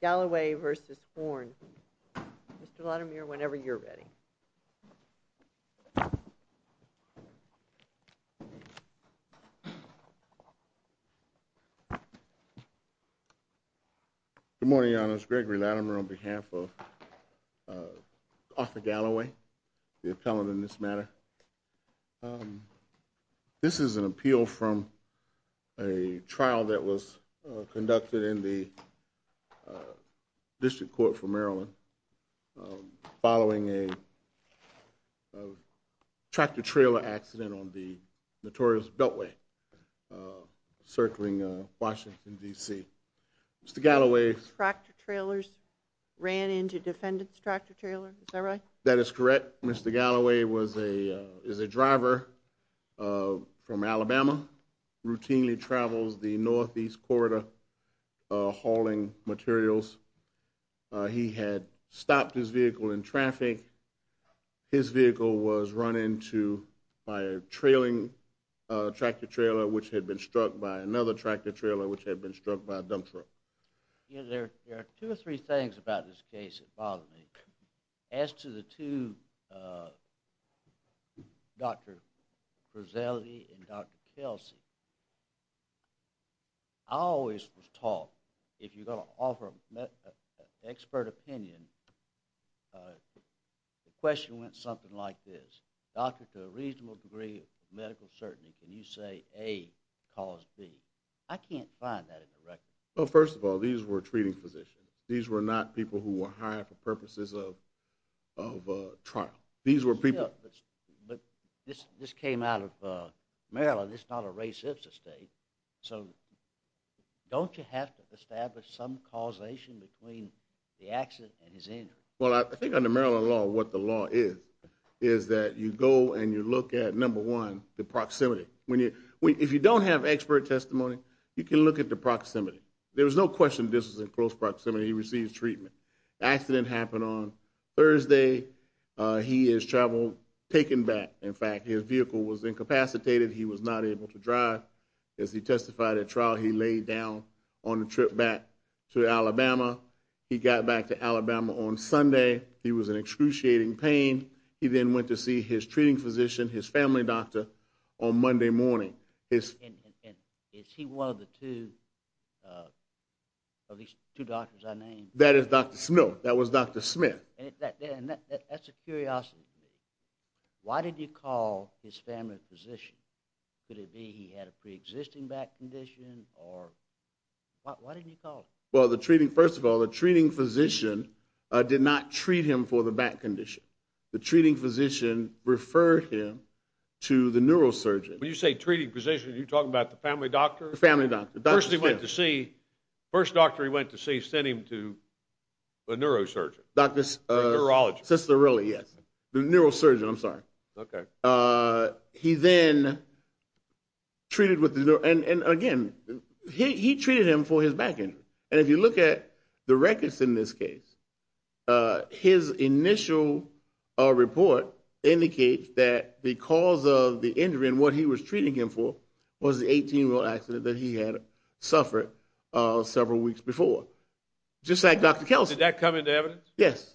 Galloway v. Horne. Mr. Latimer whenever you're ready. Good morning Your Honors, Gregory Latimer on behalf of Arthur Galloway, the appellant in this matter. This is an appeal from a trial that was conducted in the District Court for Maryland following a tractor-trailer accident on the notorious Beltway circling Washington DC. Mr. Galloway's tractor-trailers ran into defendant's tractor-trailer, is that right? That is correct. Mr. Galloway was a, is a driver from Alabama, routinely travels the Northeast Corridor hauling materials. He had stopped his vehicle in traffic. His vehicle was run into by a trailing tractor-trailer which had been struck by another tractor-trailer which had been As to the two, Dr. Frizzelli and Dr. Kelsey, I always was taught if you're going to offer an expert opinion, the question went something like this, doctor to a reasonable degree of medical certainty, can you say A cause B? I can't find that in the record. Well first of all these were treating physicians. These were not people who were hired for purposes of trial. These were people, but this came out of Maryland, it's not a racist state, so don't you have to establish some causation between the accident and his injury? Well I think under Maryland law, what the law is, is that you go and you look at number one, the proximity. When you, if you don't have expert testimony, you can look at the proximity. There was no question this was in close proximity. He received treatment. The accident happened on Thursday. He has traveled, taken back, in fact, his vehicle was incapacitated. He was not able to drive. As he testified at trial, he laid down on the trip back to Alabama. He got back to Alabama on Sunday. He was in excruciating pain. He then went to see his treating physician, his family doctor, on Monday morning. Is he one of the two doctors I named? That is Dr. Smith, that was Dr. Smith. And that's a curiosity to me. Why did you call his family physician? Could it be he had a pre-existing back condition or, why didn't you call him? Well the treating, first of all, the treating physician did not treat him for the back condition. The treating physician referred him to the neurosurgeon. When you say treating physician, are you talking about the family doctor? The family doctor. First he went to see, first doctor he went to see, sent him to a neurosurgeon. Doctor's. Neurologist. Sisterelli, yes. Neurosurgeon, I'm sorry. Okay. He then treated with, and again, he treated him for his back injury. And if you look at the records in this case, his initial report indicates that because of the treatment he was treating him for was the 18-year-old accident that he had suffered several weeks before. Just like Dr. Kelsey. Did that come into evidence? Yes.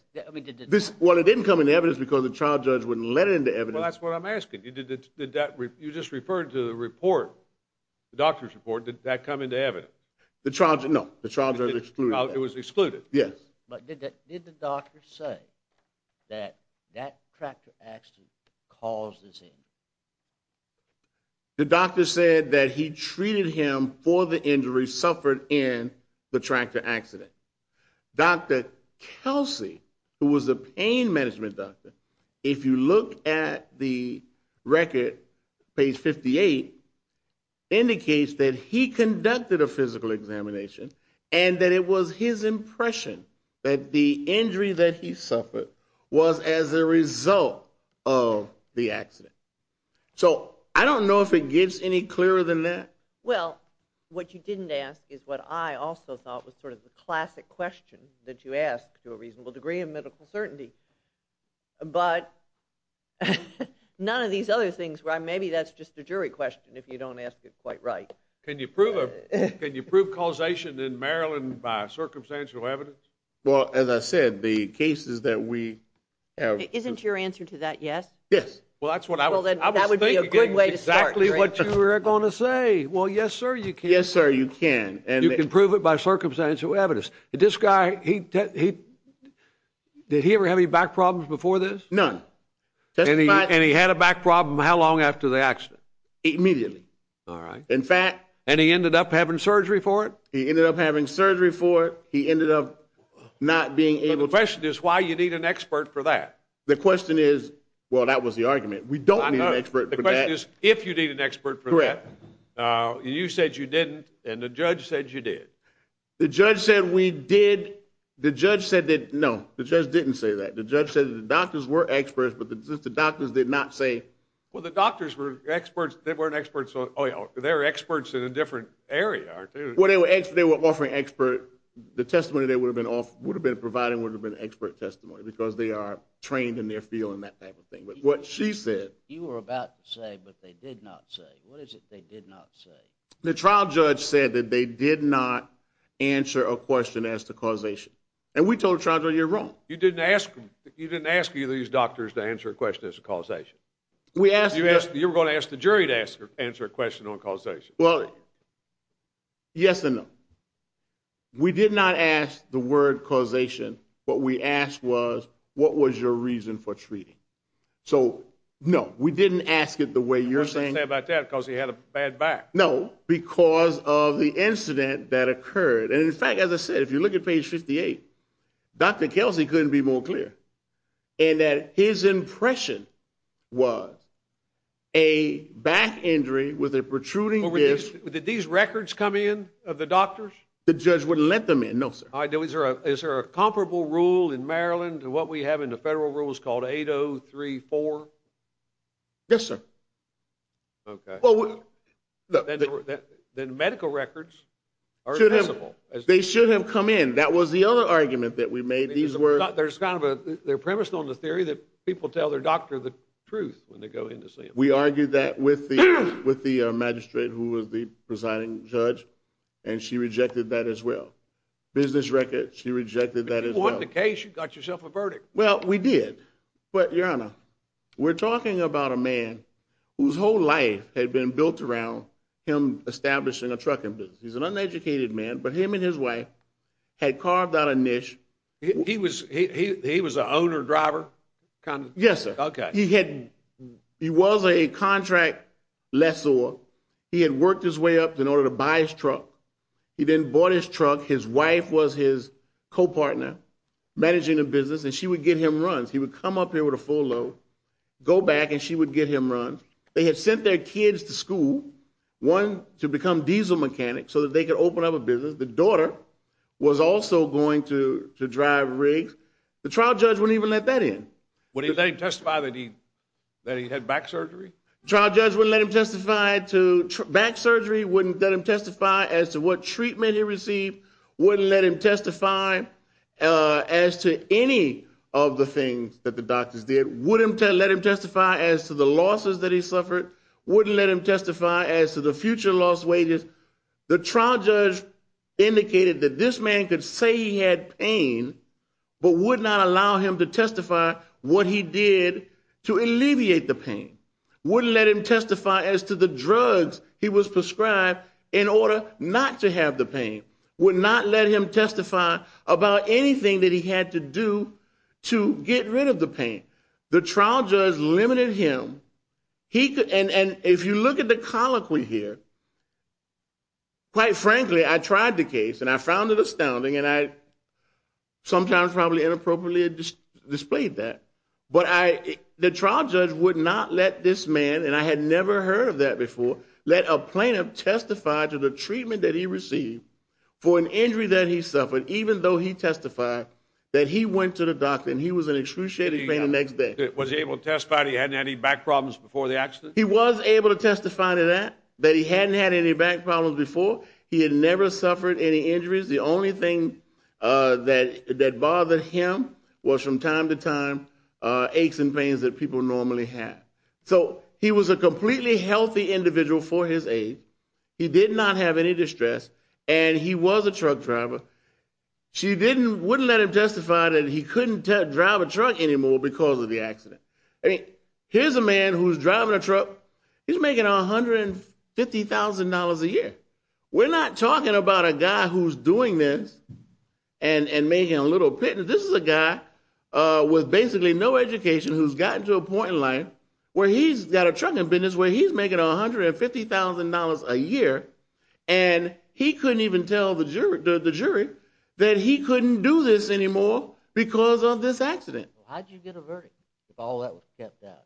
Well it didn't come into evidence because the trial judge wouldn't let it into evidence. Well that's what I'm asking. You just referred to the report, the doctor's report, did that come into evidence? The trial judge, no. The trial judge excluded that. It was excluded. Yes. But did the doctor say that that The doctor said that he treated him for the injury suffered in the tractor accident. Dr. Kelsey, who was a pain management doctor, if you look at the record, page 58, indicates that he conducted a physical examination and that it was his impression that the injury that he suffered was as a result of the I don't know if it gets any clearer than that. Well, what you didn't ask is what I also thought was sort of the classic question that you ask to a reasonable degree of medical certainty. But none of these other things where maybe that's just a jury question if you don't ask it quite right. Can you prove causation in Maryland by circumstantial evidence? Well, as I said, the cases that we... Isn't your answer to that yes? Yes. Well, that's what I was thinking. That would be a good way to start. Exactly what you were going to say. Well, yes, sir, you can. Yes, sir, you can. And you can prove it by circumstantial evidence. This guy, did he ever have any back problems before this? None. And he had a back problem how long after the accident? Immediately. All right. In fact... And he ended up having surgery for it? He ended up having surgery for it. He ended up not being able... The question is why you need an expert for that? The question is... Well, that was the argument. We don't need an expert for that. The question is if you need an expert for that. Correct. You said you didn't and the judge said you did. The judge said we did. The judge said that... No, the judge didn't say that. The judge said the doctors were experts, but the doctors did not say... Well, the doctors were experts. They weren't experts on oil. They were experts in a different area, aren't they? Well, they were offering expert... The testimony they would have been off... Would have been providing would have been expert testimony because they are trained in their field and that type of thing. But what she said... You were about to say, but they did not say. What is it they did not say? The trial judge said that they did not answer a question as to causation. And we told the trial judge, you're wrong. You didn't ask them... You didn't ask either of these doctors to answer a question as to causation. We asked... You were going to ask the jury to answer a question on causation. Well, yes and no. We did not ask the word causation. What we asked was, what was your reason for treating? So, no, we didn't ask it the way you're saying... We didn't say about that because he had a bad back. No, because of the incident that occurred. And in fact, as I said, if you look at page 58, Dr. Kelsey couldn't be more clear. And that his impression was a back injury with a protruding disc... Did these records come in of the doctors? The judge wouldn't let them in. No, sir. Is there a comparable rule in Maryland to what we have in the federal rules called 8034? Yes, sir. Okay. Then medical records are accessible. They should have come in. That was the other argument that we made. These were... There's kind of a... They're premised on the theory that people tell their doctor the truth when they go in to see him. We argued that with the magistrate who was the presiding judge, and she rejected that as well. Business records, she rejected that as well. If it wasn't the case, you got yourself a verdict. Well, we did. But, Your Honor, we're talking about a man whose whole life had been built around him establishing a trucking business. He's an uneducated man, but him and his wife had carved out a niche. He was an owner-driver kind of... Yes, sir. He was a contract lessor. He had worked his way up in order to buy his truck. He then bought his truck. His wife was his co-partner managing the business, and she would get him runs. He would come up here with a full load, go back, and she would get him runs. They had sent their kids to school, one, to become diesel mechanics so that they could open up a business. The daughter was also going to drive rigs. The trial judge wouldn't even let that in. Wouldn't he let him testify that he had back surgery? The trial judge wouldn't let him testify to back surgery, wouldn't let him testify as to what treatment he received, wouldn't let him testify as to any of the things that the doctors did, wouldn't let him testify as to the losses that he suffered, wouldn't let him testify as to the future lost wages. The trial judge, this man could say he had pain, but would not allow him to testify what he did to alleviate the pain, wouldn't let him testify as to the drugs he was prescribed in order not to have the pain, would not let him testify about anything that he had to do to get rid of the pain. The trial judge limited him. And if you look at the colloquy here, quite frankly, I tried the case, and I found it astounding, and I sometimes probably inappropriately displayed that, but the trial judge would not let this man, and I had never heard of that before, let a plaintiff testify to the treatment that he received for an injury that he suffered, even though he testified that he went to the doctor and he was in excruciating pain the next day. Was he able to testify that he hadn't had any back problems before the accident? He was able to testify to that, that he hadn't had any back problems before. He had never suffered any injuries. The only thing that bothered him was from time to time aches and pains that people normally have. So he was a completely healthy individual for his age. He did not have any distress, and he was a truck driver. She wouldn't let him testify that he couldn't drive a truck anymore because of the accident. Here's a man who's driving a truck. He's making $150,000 a year. We're not talking about a guy who's doing this and making a little pittance. This is a guy with basically no education who's gotten to a point in life where he's got a trucking business where he's making $150,000 a year, and he couldn't even tell the jury that he couldn't do this anymore because of this accident. How did you get a verdict if all that was kept out?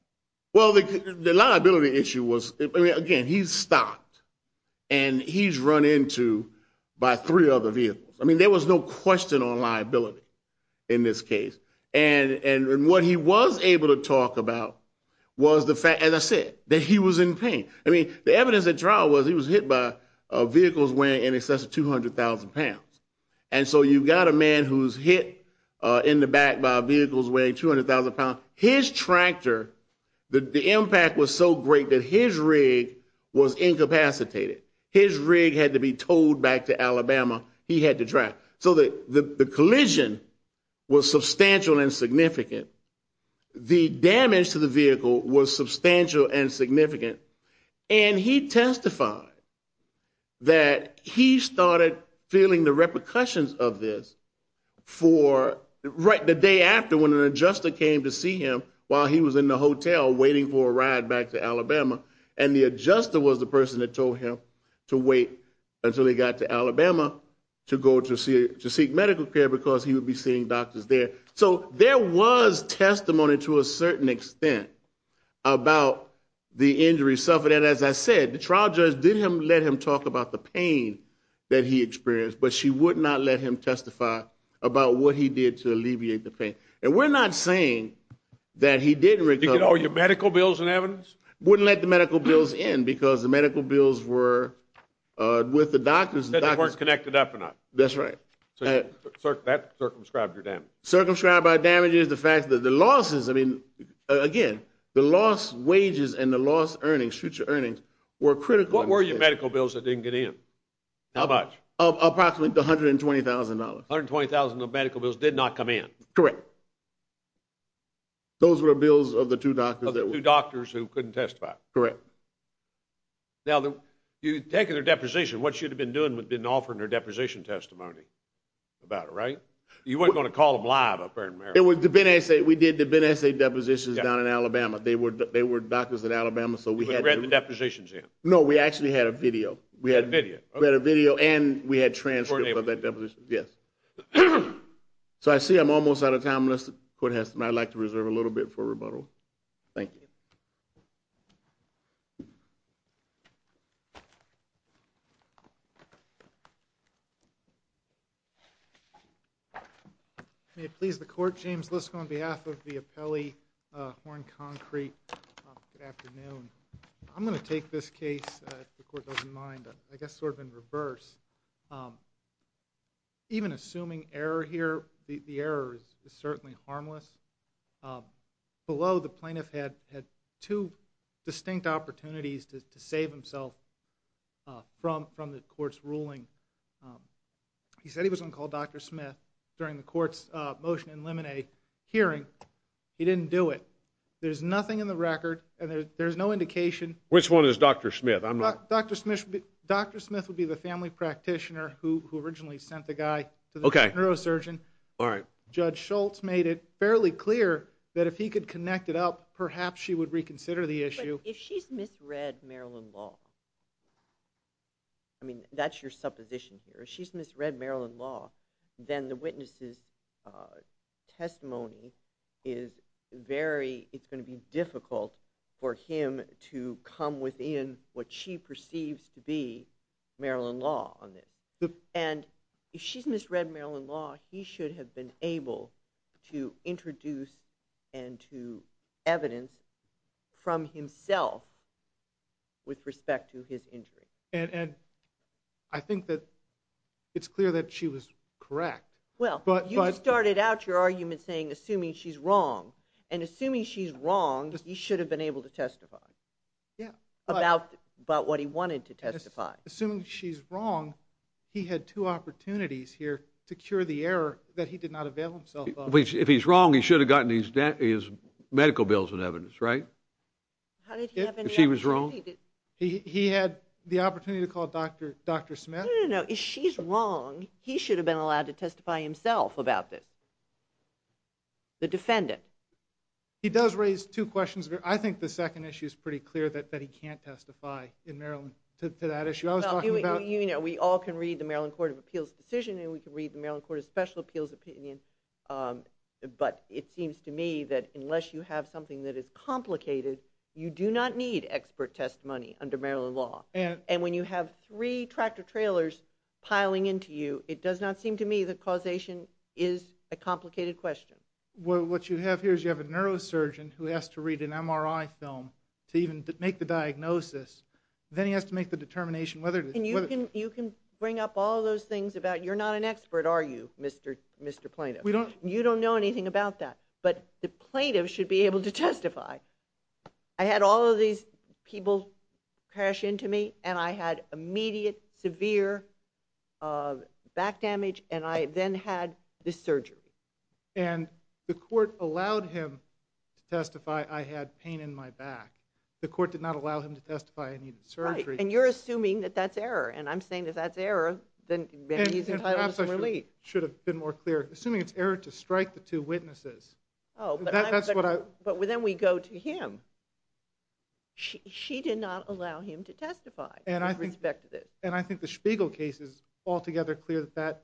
Well, the liability issue was, again, he's stopped, and he's run into by three other vehicles. I mean, there was no question on liability in this case, and what he was able to talk about was the fact, as I said, that he was in pain. I mean, the evidence at trial was he was hit by vehicles weighing in excess of 200,000 pounds, and so you've got a man who's hit in the back by vehicles weighing 200,000 pounds. His tractor, the impact was so great that his rig was incapacitated. His rig had to be towed back to Alabama. He had to drive. So the collision was substantial and significant. The damage to the vehicle was substantial and significant, and he started feeling the repercussions of this right the day after when an adjuster came to see him while he was in the hotel waiting for a ride back to Alabama, and the adjuster was the person that told him to wait until he got to Alabama to go to seek medical care because he would be seeing doctors there. So there was testimony to a certain extent about the injury suffering, and as I said, the trial judge didn't let him talk about the pain that he experienced, but she would not let him testify about what he did to alleviate the pain, and we're not saying that he didn't recover. You get all your medical bills and evidence? Wouldn't let the medical bills in because the medical bills were with the doctors. They weren't connected up enough. That's right. That circumscribed your damage. Circumscribed by damages, the fact that the lost wages and the lost earnings, future earnings, were critical. What were your medical bills that didn't get in? How much? Approximately $120,000. $120,000 of medical bills did not come in? Correct. Those were bills of the two doctors who couldn't testify? Correct. Now, you've taken their deposition. What you'd have been doing would have been offering their deposition testimony about it, right? You weren't going to call them live up there in America. We did the Ben Essay depositions down in Alabama. They were doctors in Alabama. You hadn't read the depositions yet? No, we actually had a video. We had a video and we had transcripts of that deposition. So I see I'm almost out of time. I'd like to reserve a little bit for rebuttal. Thank you. May it please the court, James Liskow on behalf of the Appellee Horn Concrete. Good afternoon. I'm going to take this case, if the court doesn't mind, I guess sort of in reverse. Even assuming error here, the error is certainly harmless. Below, the two distinct opportunities to save himself from the court's ruling. He said he was going to call Dr. Smith during the court's motion in Lemonet hearing. He didn't do it. There's nothing in the record and there's no indication. Which one is Dr. Smith? Dr. Smith would be the family practitioner who originally sent the guy to the neurosurgeon. Judge Schultz made it fairly clear that if he could connect it up, perhaps she would reconsider the issue. If she's misread Maryland law, I mean, that's your supposition here. If she's misread Maryland law, then the witness's testimony is very, it's going to be difficult for him to come within what she perceives to be Maryland law on this. And if she's misread Maryland law, he should have been able to introduce and to evidence from himself with respect to his injury. And I think that it's clear that she was correct. Well, you started out your argument saying assuming she's wrong. And assuming she's wrong, he should have been able to testify about what he wanted to testify. Assuming she's If he's wrong, he should have gotten his medical bills and evidence, right? If she was wrong? He had the opportunity to call Dr. Smith? No, no, no. If she's wrong, he should have been allowed to testify himself about this. The defendant. He does raise two questions. I think the second issue is pretty clear that he can't testify in Maryland to that issue. You know, we all can read the Maryland Court of Special Appeals opinion, but it seems to me that unless you have something that is complicated, you do not need expert testimony under Maryland law. And when you have three tractor-trailers piling into you, it does not seem to me that causation is a complicated question. Well, what you have here is you have a neurosurgeon who has to read an MRI film to even make the diagnosis. Then he has to make the determination whether... And you can bring up all those things about you're not an expert, are you, Mr. Plaintiff? You don't know anything about that, but the plaintiff should be able to testify. I had all of these people crash into me, and I had immediate severe back damage, and I then had this surgery. And the court allowed him to testify I had pain in my back. The court did not allow him to testify I needed surgery. And you're assuming that that's error, and I'm saying if that's error, then maybe he's entitled to some relief. It should have been more clear. Assuming it's error to strike the two witnesses. Oh, but then we go to him. She did not allow him to testify. And I respect that. And I think the Spiegel case is altogether clear that that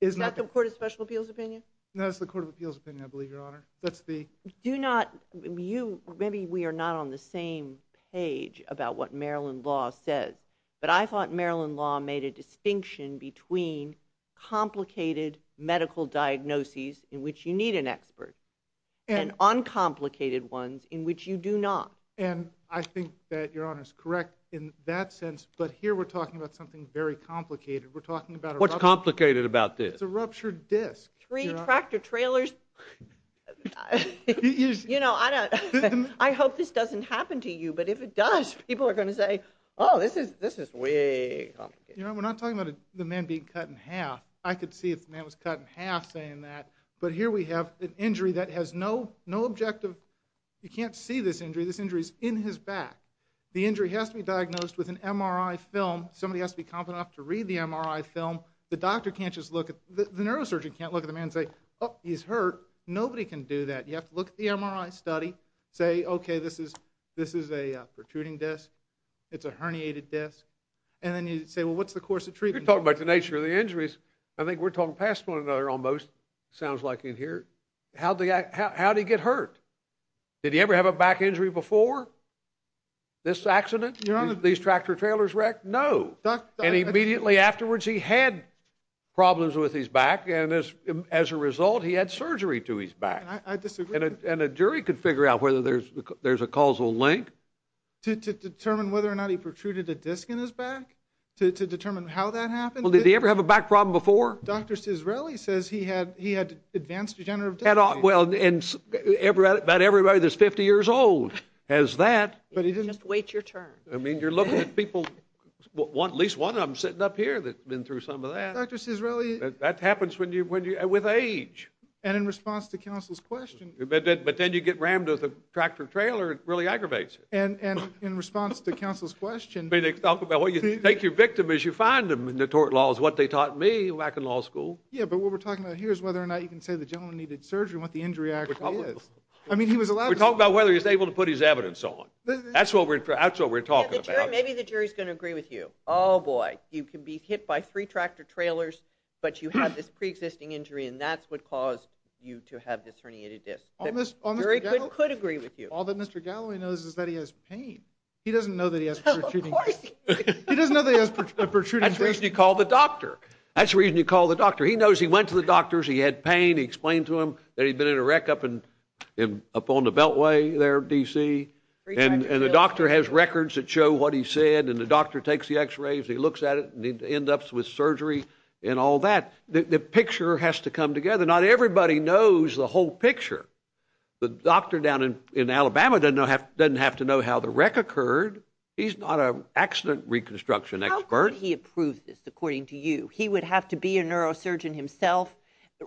is not... Is that the Court of Special Appeals opinion? No, that's the Court of Appeals opinion, I believe, Your Honor. That's the... Do not... Maybe we are not on the same page about what Maryland law says, but I thought Maryland law made a distinction between complicated medical diagnoses, in which you need an expert, and uncomplicated ones, in which you do not. And I think that Your Honor is correct in that sense, but here we're talking about something very complicated. We're talking about... What's complicated about this? It's a ruptured disc. Three tractor trailers. You know, I hope this doesn't happen to you, but if it does, people are going to say, oh, this is way complicated. You know, we're not talking about the man being cut in half. I could see if the man was cut in half saying that, but here we have an injury that has no objective... You can't see this injury. This injury is in his back. The injury has to be diagnosed with an MRI film. Somebody has to be competent enough to read the MRI film. The doctor can't just look at... The neurosurgeon can't look at the man and say, oh, he's hurt. Nobody can do that. You have to look at the MRI study, say, okay, this is a protruding disc. It's a herniated disc, and then you'd say, well, what's the course of treatment? You're talking about the nature of the injuries. I think we're talking past one another almost, sounds like in here. How did he get hurt? Did he ever have a back injury before this accident? These tractor trailers wrecked? No. And immediately afterwards, he had problems with his back, and as a result, he had surgery to his back. I disagree. And a jury could figure out whether there's a causal link. To determine whether or not he protruded a disc in his back? To determine how that happened? Well, did he ever have a back problem before? Dr. Cisrelli says he had advanced degenerative disc herniation. Well, and about everybody that's 50 years old has that. But he didn't wait your turn. I mean, you're looking at people, at least one of them sitting up here that's been through some of that. Dr. Cisrelli... That happens with age. And in response to counsel's question... But then you get rammed with a tractor trailer, it really aggravates it. And in response to counsel's question... They talk about, well, you take your victim as you find them in the tort laws, what they taught me back in law school. Yeah, but what we're talking about here is whether or not you can say the gentleman needed surgery and what the injury actually is. I mean, he was allowed... We're talking about whether he's able to put his evidence on. That's what we're talking about. Maybe the You can be hit by three tractor trailers, but you have this pre-existing injury, and that's what caused you to have this herniated disc. All that Mr. Galloway knows is that he has pain. He doesn't know that he has protruding discs. That's the reason he called the doctor. That's the reason he called the doctor. He knows he went to the doctors, he had pain, he explained to him that he'd been in a wreck up on the Beltway there, D.C. And the doctor has to come together. Not everybody knows the whole picture. The doctor down in Alabama doesn't have to know how the wreck occurred. He's not an accident reconstruction expert. How could he have proved this, according to you? He would have to be a neurosurgeon himself,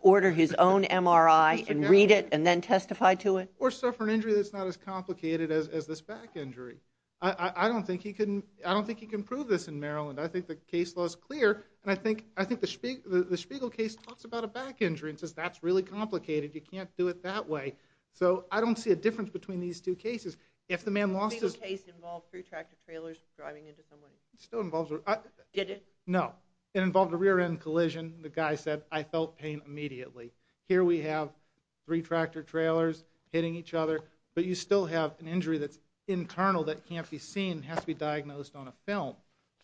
order his own MRI, and read it, and then testify to it? Or suffer an injury that's not as complicated as this back injury. I don't think he can prove this in Maryland. I think the case law is clear, and I think the Spiegel case talks about a back injury and says that's really complicated, you can't do it that way. So I don't see a difference between these two cases. If the man lost his... The Spiegel case involved three tractor-trailers driving into someone. It still involves... Did it? No. It involved a rear-end collision. The guy said, I felt pain immediately. Here we have three tractor-trailers hitting each other. But you still have an injury that's internal that can't be seen, has to be diagnosed on a film.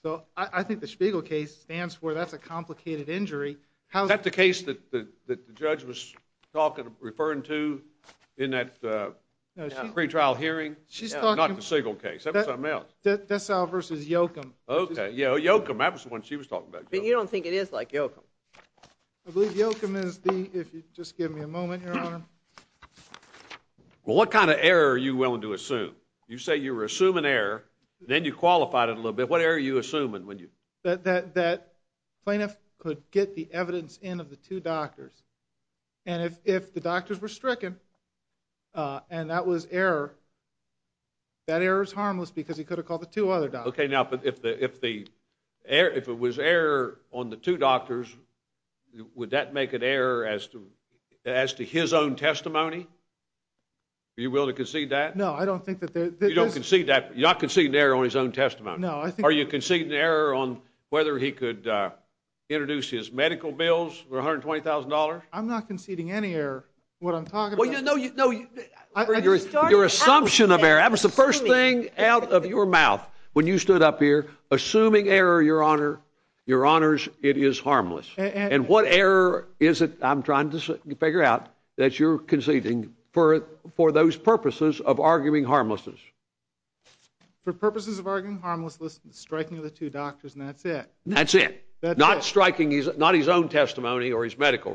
So I think the Spiegel case stands for that's a complicated injury. Is that the case that the judge was referring to in that pre-trial hearing? She's talking... Not the Spiegel case, that was something else. Dessau versus Yoakam. Okay, Yoakam, that was the one she was talking about. But you don't think it is like Yoakam? Well, what kind of error are you willing to assume? You say you were assuming error, then you qualified it a little bit. What error are you assuming? That plaintiff could get the evidence in of the two doctors. And if the doctors were stricken, and that was error, that error is harmless because he could have called the two other doctors. Okay, now if it was error on the two doctors, would that make it error as to his own testimony? Are you willing to concede that? No, I don't think that... You don't concede that, you're not conceding error on his own testimony. No, I think... Are you conceding error on whether he could introduce his medical bills for $120,000? I'm not conceding any error, what I'm talking about. Your assumption of error, that was the first thing out of your mouth when you stood up here, assuming error, Your Honor. Your Honors, it is harmless. And what error is it, I'm trying to figure out, that you're conceding for those purposes of arguing harmlessness? For purposes of arguing harmlessness, striking of the two doctors, and that's it. That's it? That's it. Not striking his own testimony or his medical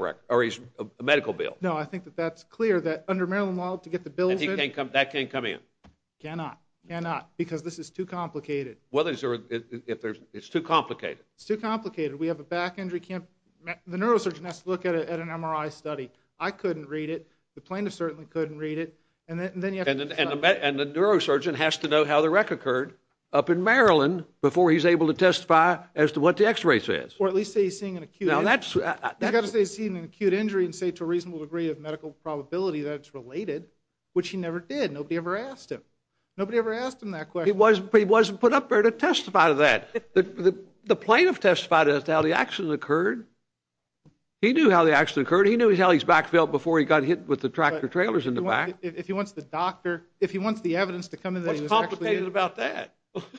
bill? No, I think that that's clear, that under Maryland law, to get the bills in... That can't come in? Cannot, cannot, because this is too complicated. Well, it's too complicated. It's too complicated, we have a back injury, the neurosurgeon has to look at an MRI study. I couldn't read it, the plaintiff certainly couldn't read it, and then you have to... And the neurosurgeon has to know how the wreck occurred up in Maryland before he's able to testify as to what the x-ray says. Or at least say he's seeing an acute injury. He's got to say he's seeing an acute injury and say to a reasonable degree of medical probability that it's related, which he never did, nobody ever asked him. Nobody ever asked him that question. But he wasn't put up there to testify to that. The plaintiff testified as to how the accident occurred. He knew how the accident occurred, he knew how his back felt before he got hit with the tractor-trailers in the back. If he wants the doctor, if he wants the evidence to come in that he was actually... What's complicated about that?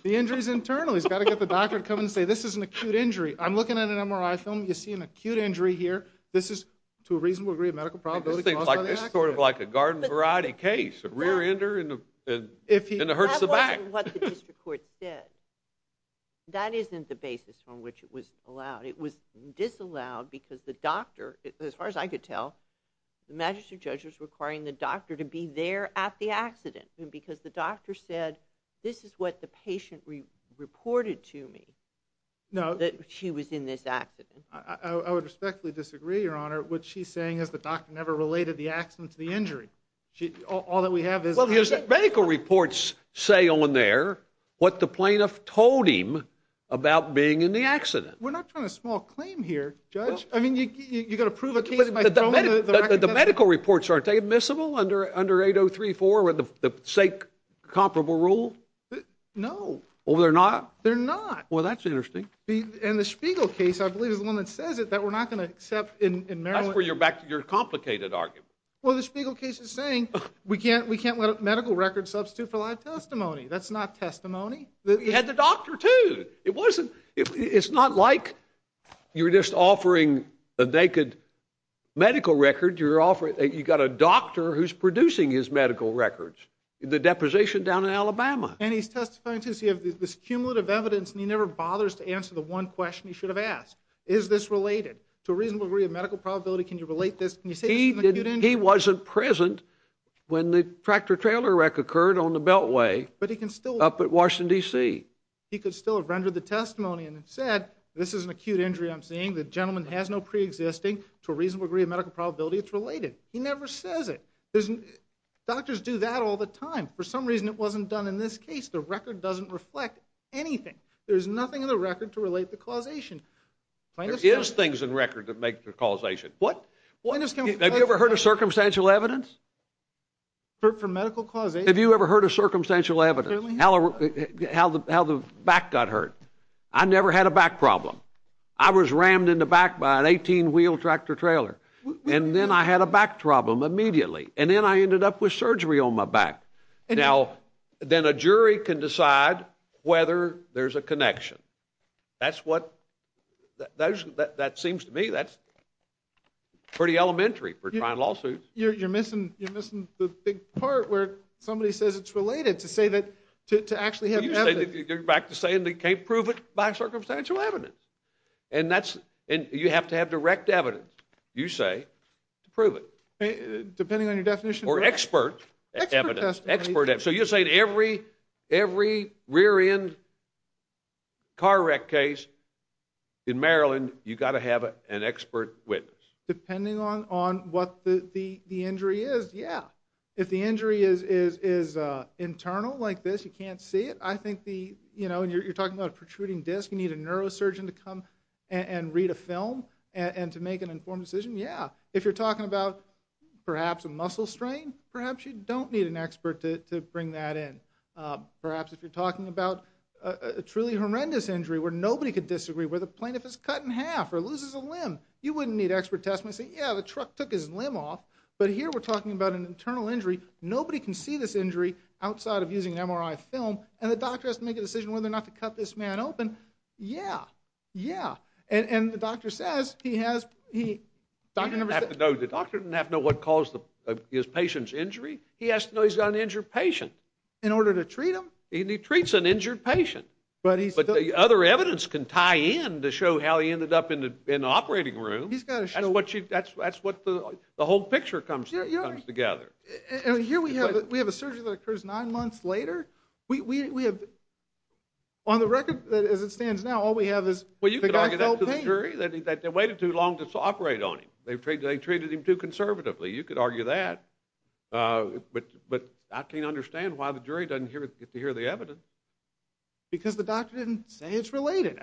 The injury's internal, he's got to get the doctor to come in and say this is an acute injury. I'm looking at an MRI film, you see an acute injury here. This is to a reasonable degree of medical probability caused by the accident. This is sort of like a garden variety case, a rear-ender and it hurts the back. That wasn't what the district court said. That isn't the basis on which it was allowed. It was disallowed because the doctor, as far as I could tell, the magistrate judge was requiring the doctor to be there at the accident, because the doctor said this is what the patient reported to me. No. That she was in this accident. I would respectfully disagree, Your Honor. What she's saying is the doctor never related the accident to the injury. All that we have is... Well, the medical reports say on there what the plaintiff told him about being in the accident. We're not trying to small claim here, Judge. I mean, you've got to prove a case by throwing the record down. But the medical reports, aren't they admissible under 8034 with the sake comparable rule? No. Well, they're not? They're not. Well, that's interesting. And the Spiegel case, I believe, is the one that says it that we're not going to accept in Maryland. That's where you're back to your complicated argument. Well, the Spiegel case is saying we can't let a medical record substitute for live testimony. That's not testimony. We had the doctor, too. It's not like you're just offering a naked medical record. You've got a doctor who's producing his medical records, the deposition down in Alabama. And he's testifying, too. So you have this cumulative evidence, and he never bothers to answer the one question he should have asked. Is this related to a reasonable degree of medical probability? Can you relate this? He wasn't present when the tractor-trailer wreck occurred on the Beltway up at Washington, D.C. He could still have rendered the testimony and said, This is an acute injury I'm seeing. The gentleman has no preexisting to a reasonable degree of medical probability. It's related. He never says it. Doctors do that all the time. For some reason it wasn't done in this case. The record doesn't reflect anything. There's nothing in the record to relate the causation. There is things in record that make the causation. What? Have you ever heard of circumstantial evidence? For medical causation? Have you ever heard of circumstantial evidence? How the back got hurt. I never had a back problem. I was rammed in the back by an 18-wheel tractor-trailer. And then I had a back problem immediately. And then I ended up with surgery on my back. Then a jury can decide whether there's a connection. That seems to me that's pretty elementary for trying lawsuits. You're missing the big part where somebody says it's related to actually have evidence. You're back to saying they can't prove it by circumstantial evidence. And you have to have direct evidence, you say, to prove it. Or expert evidence. So you're saying every rear-end car wreck case in Maryland, you've got to have an expert witness. Depending on what the injury is, yeah. If the injury is internal, like this, you can't see it. You're talking about a protruding disc. You need a neurosurgeon to come and read a film and to make an informed decision, yeah. If you're talking about perhaps a muscle strain, perhaps you don't need an expert to bring that in. Perhaps if you're talking about a truly horrendous injury where nobody could disagree, where the plaintiff is cut in half or loses a limb, you wouldn't need expert testimony to say, yeah, the truck took his limb off. But here we're talking about an internal injury. Nobody can see this injury outside of using an MRI film. And the doctor has to make a decision whether or not to cut this man open. Yeah, yeah. And the doctor says he has to know what caused his patient's injury. He has to know he's got an injured patient. In order to treat him? He treats an injured patient. But the other evidence can tie in to show how he ended up in the operating room. That's what the whole picture comes together. Here we have a surgery that occurs nine months later. On the record, as it stands now, all we have is the guy felt pain. Well, you could argue that to the jury, that they waited too long to operate on him. They treated him too conservatively. You could argue that. But I can't understand why the jury doesn't get to hear the evidence. Because the doctor didn't say it's related.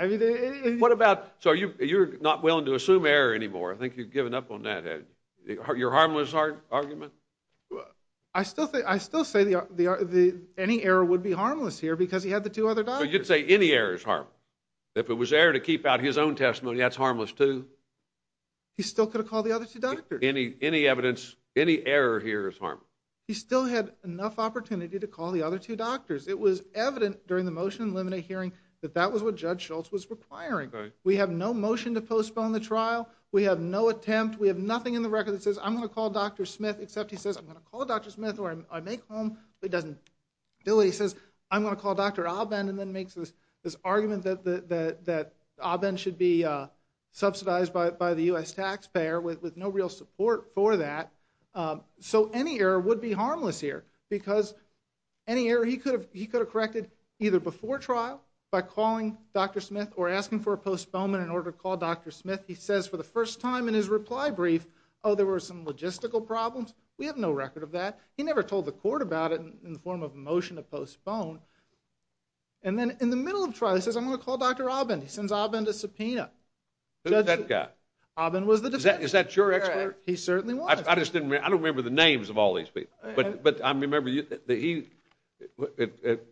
So you're not willing to assume error anymore. I think you've given up on that. Your harmless argument? I still say any error would be harmless here because he had the two other doctors. So you'd say any error is harmless? If it was error to keep out his own testimony, that's harmless too? He still could have called the other two doctors. Any evidence, any error here is harmless? He still had enough opportunity to call the other two doctors. It was evident during the motion to eliminate hearing that that was what Judge Schultz was requiring. We have no motion to postpone the trial. We have no attempt. We have nothing in the record that says, I'm going to call Dr. Smith, except he says, I'm going to call Dr. Smith or I make home, but he doesn't do it. He says, I'm going to call Dr. Abend and then makes this argument that Abend should be subsidized by the U.S. taxpayer with no real support for that. So any error would be harmless here because any error he could have corrected either before trial by calling Dr. Smith or asking for a postponement in order to call Dr. Smith, he says for the first time in his reply brief, oh, there were some logistical problems. We have no record of that. He never told the court about it in the form of a motion to postpone. And then in the middle of trial, he says, I'm going to call Dr. Abend. He sends Abend a subpoena. Who's that guy? Abend was the defendant. Is that your expert? He certainly was. I just didn't remember. I don't remember the names of all these people. But I remember that he, it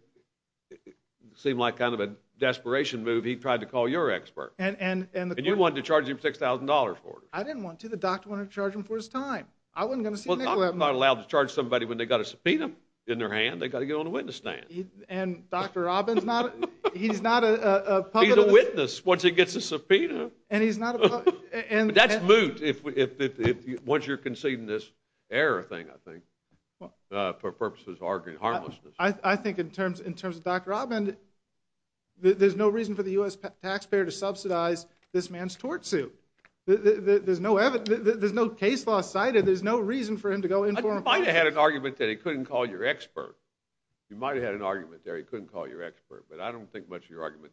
seemed like kind of a desperation move. He tried to call your expert. And you wanted to charge him $6,000 for it. I didn't want to. The doctor wanted to charge him for his time. I wasn't going to see Nicolet. I'm not allowed to charge somebody when they've got a subpoena in their hand. They've got to get on a witness stand. And Dr. Abend's not, he's not a public. He's a witness once he gets a subpoena. And he's not a public. But that's moot once you're conceding this error thing, I think, for purposes of arguing harmlessness. I think in terms of Dr. Abend, there's no reason for the U.S. taxpayer to subsidize this man's tort suit. There's no case law cited. There's no reason for him to go in for him. You might have had an argument that he couldn't call your expert. You might have had an argument there he couldn't call your expert. But I don't think much of your argument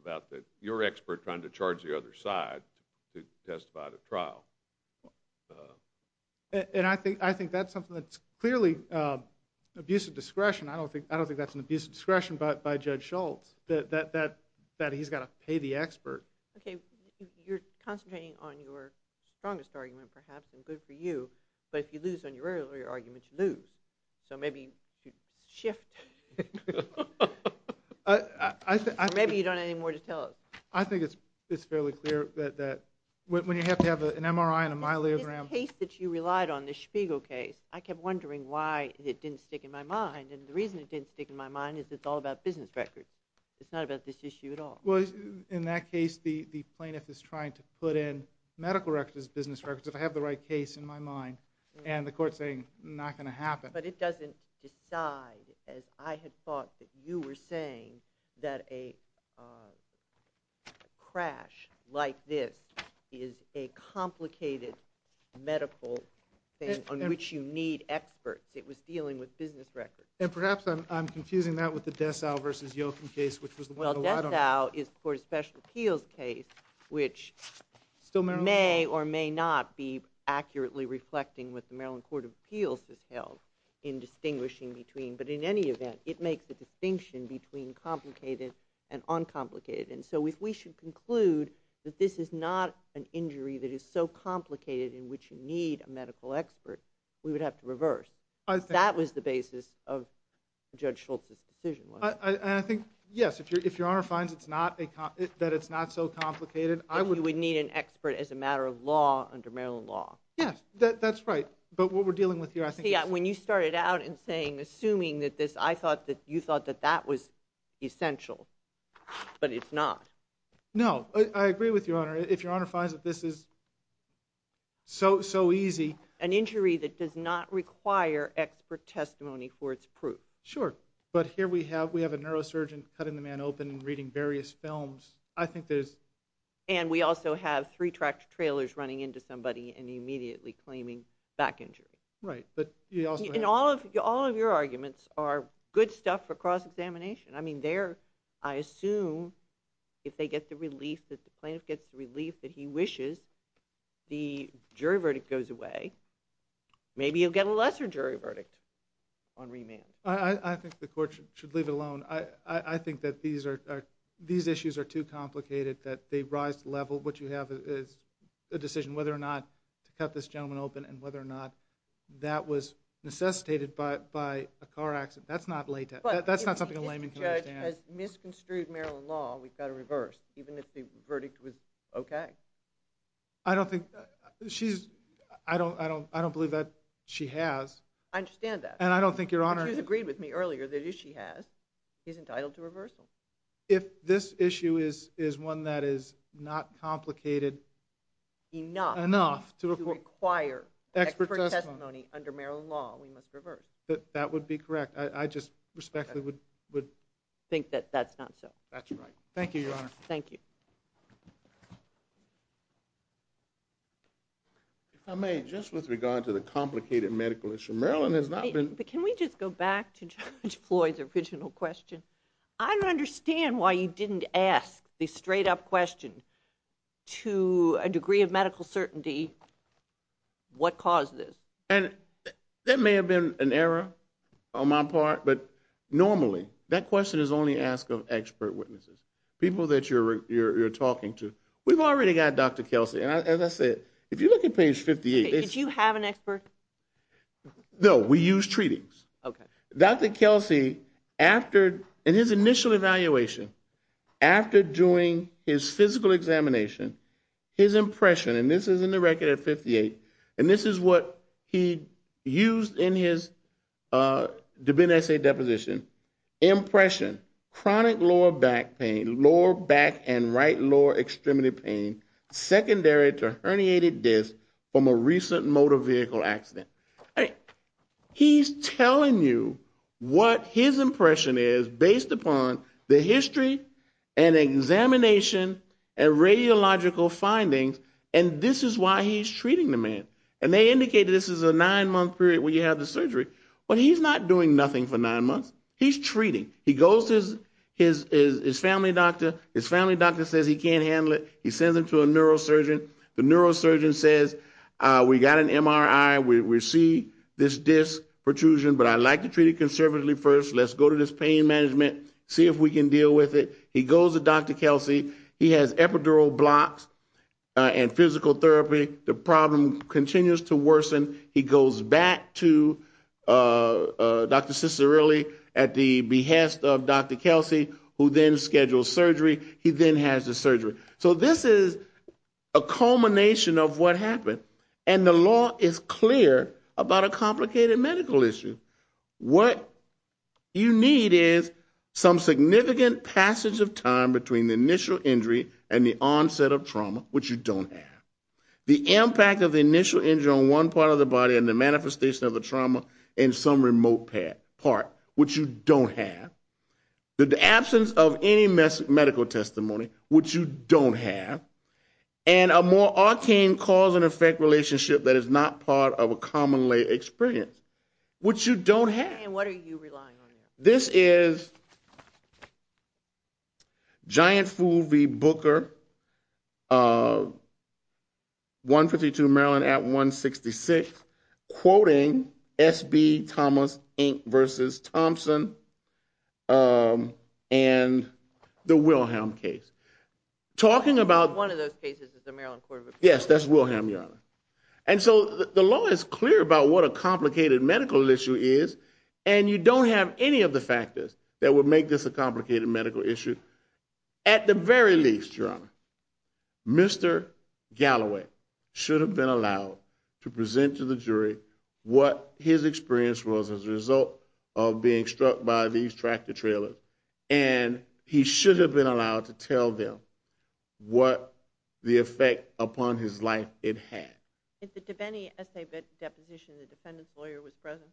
about your expert trying to charge the other side to testify to trial. And I think that's something that's clearly abusive discretion. I don't think that's an abusive discretion by Judge Schultz, that he's got to pay the expert. Okay. You're concentrating on your strongest argument, perhaps, and good for you. But if you lose on your earlier argument, you lose. So maybe you should shift. Or maybe you don't have any more to tell us. I think it's fairly clear that when you have to have an MRI and a myelogram. The case that you relied on, the Spiegel case, I kept wondering why it didn't stick in my mind. And the reason it didn't stick in my mind is it's all about business records. It's not about this issue at all. Well, in that case, the plaintiff is trying to put in medical records as business records, if I have the right case in my mind. And the court's saying, not going to happen. But it doesn't decide, as I had thought that you were saying, that a crash like this is a complicated medical thing on which you need experts. It was dealing with business records. And perhaps I'm confusing that with the Dessau v. Yolkin case, which was the one that lied on it. Well, Dessau is the Court of Special Appeals case, which may or may not be accurately reflecting what the Maryland Court of Appeals has held in distinguishing between. But in any event, it makes a distinction between complicated and uncomplicated. And so if we should conclude that this is not an injury that is so complicated in which you need a medical expert, we would have to reverse. That was the basis of Judge Schultz's decision. And I think, yes, if Your Honor finds that it's not so complicated. You would need an expert as a matter of law under Maryland law. Yes, that's right. But what we're dealing with here, I think... See, when you started out in saying, assuming that this, I thought that you thought that that was essential. But it's not. No, I agree with Your Honor. If Your Honor finds that this is so easy... An injury that does not require expert testimony for its proof. Sure. But here we have a neurosurgeon cutting the man open and reading various films. I think there's... And we also have three tractor-trailers running into somebody and immediately claiming back injury. Right, but you also have... And all of your arguments are good stuff for cross-examination. I mean, there, I assume, if they get the relief, if the plaintiff gets the relief that he wishes, the jury verdict goes away. Maybe you'll get a lesser jury verdict on remand. I think the court should leave it alone. I think that these issues are too complicated, that they rise to the level. What you have is a decision whether or not to cut this gentleman open and whether or not that was necessitated by a car accident. That's not something a layman can understand. But if the judge has misconstrued Maryland law, we've got to reverse, even if the verdict was okay. I don't think... She's... I don't believe that she has. I understand that. And I don't think Your Honor... She's agreed with me earlier that if she has, he's entitled to reversal. If this issue is one that is not complicated enough... Enough to require expert testimony under Maryland law, we must reverse. That would be correct. I just respectfully would... Think that that's not so. That's right. Thank you, Your Honor. Thank you. If I may, just with regard to the complicated medical issue, Maryland has not been... Can we just go back to Judge Floyd's original question? I don't understand why you didn't ask the straight-up question to a degree of medical certainty what caused this. And that may have been an error on my part, but normally, that question is only asked of expert witnesses, people that you're talking to. We've already got Dr. Kelsey. As I said, if you look at page 58... Did you have an expert? No. We use treatings. Okay. Dr. Kelsey, after, in his initial evaluation, after doing his physical examination, his impression, and this is in the record at 58, and this is what he used in his DeBene essay deposition, impression, chronic lower back pain, lower back and right lower extremity pain, secondary to herniated disc from a recent motor vehicle accident. He's telling you what his impression is based upon the history and examination and radiological findings, and this is why he's treating the man. And they indicated this is a nine-month period where you have the surgery. Well, he's not doing nothing for nine months. He's treating. He goes to his family doctor. His family doctor says he can't handle it. He sends him to a neurosurgeon. The neurosurgeon says, we got an MRI. We see this disc protrusion, but I'd like to treat it conservatively first. Let's go to this pain management, see if we can deal with it. He goes to Dr. Kelsey. He has epidural blocks and physical therapy. The problem continues to worsen. He goes back to Dr. Cicirelli at the behest of Dr. Kelsey, who then schedules surgery. He then has the surgery. So this is a culmination of what happened, and the law is clear about a complicated medical issue. What you need is some significant passage of time between the initial injury and the onset of trauma, which you don't have. The impact of the initial injury on one part of the body and the manifestation of the trauma in some remote part, which you don't have. The absence of any medical testimony, which you don't have. And a more arcane cause-and-effect relationship that is not part of a common lay experience, which you don't have. And what are you relying on? This is Giant Fool v. Booker, 152 Maryland at 166, quoting S.B. Thomas, Inc. v. Thompson and the Wilhelm case. Talking about one of those cases is the Maryland Court of Appeals. Yes, that's Wilhelm, Your Honor. And so the law is clear about what a complicated medical issue is, and you don't have any of the factors that would make this a complicated medical issue. At the very least, Your Honor, Mr. Galloway should have been allowed to present to the jury what his experience was as a result of being struck by these tractor trailers, and he should have been allowed to tell them what the effect upon his life it had. If any essay deposition, the defendant's lawyer was present?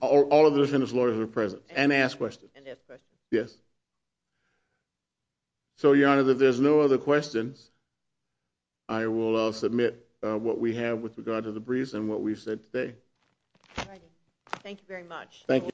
All of the defendant's lawyers were present and asked questions. And asked questions. Yes. So, Your Honor, if there's no other questions, I will submit what we have with regard to the briefs and what we've said today. All righty. Thank you very much. Thank you.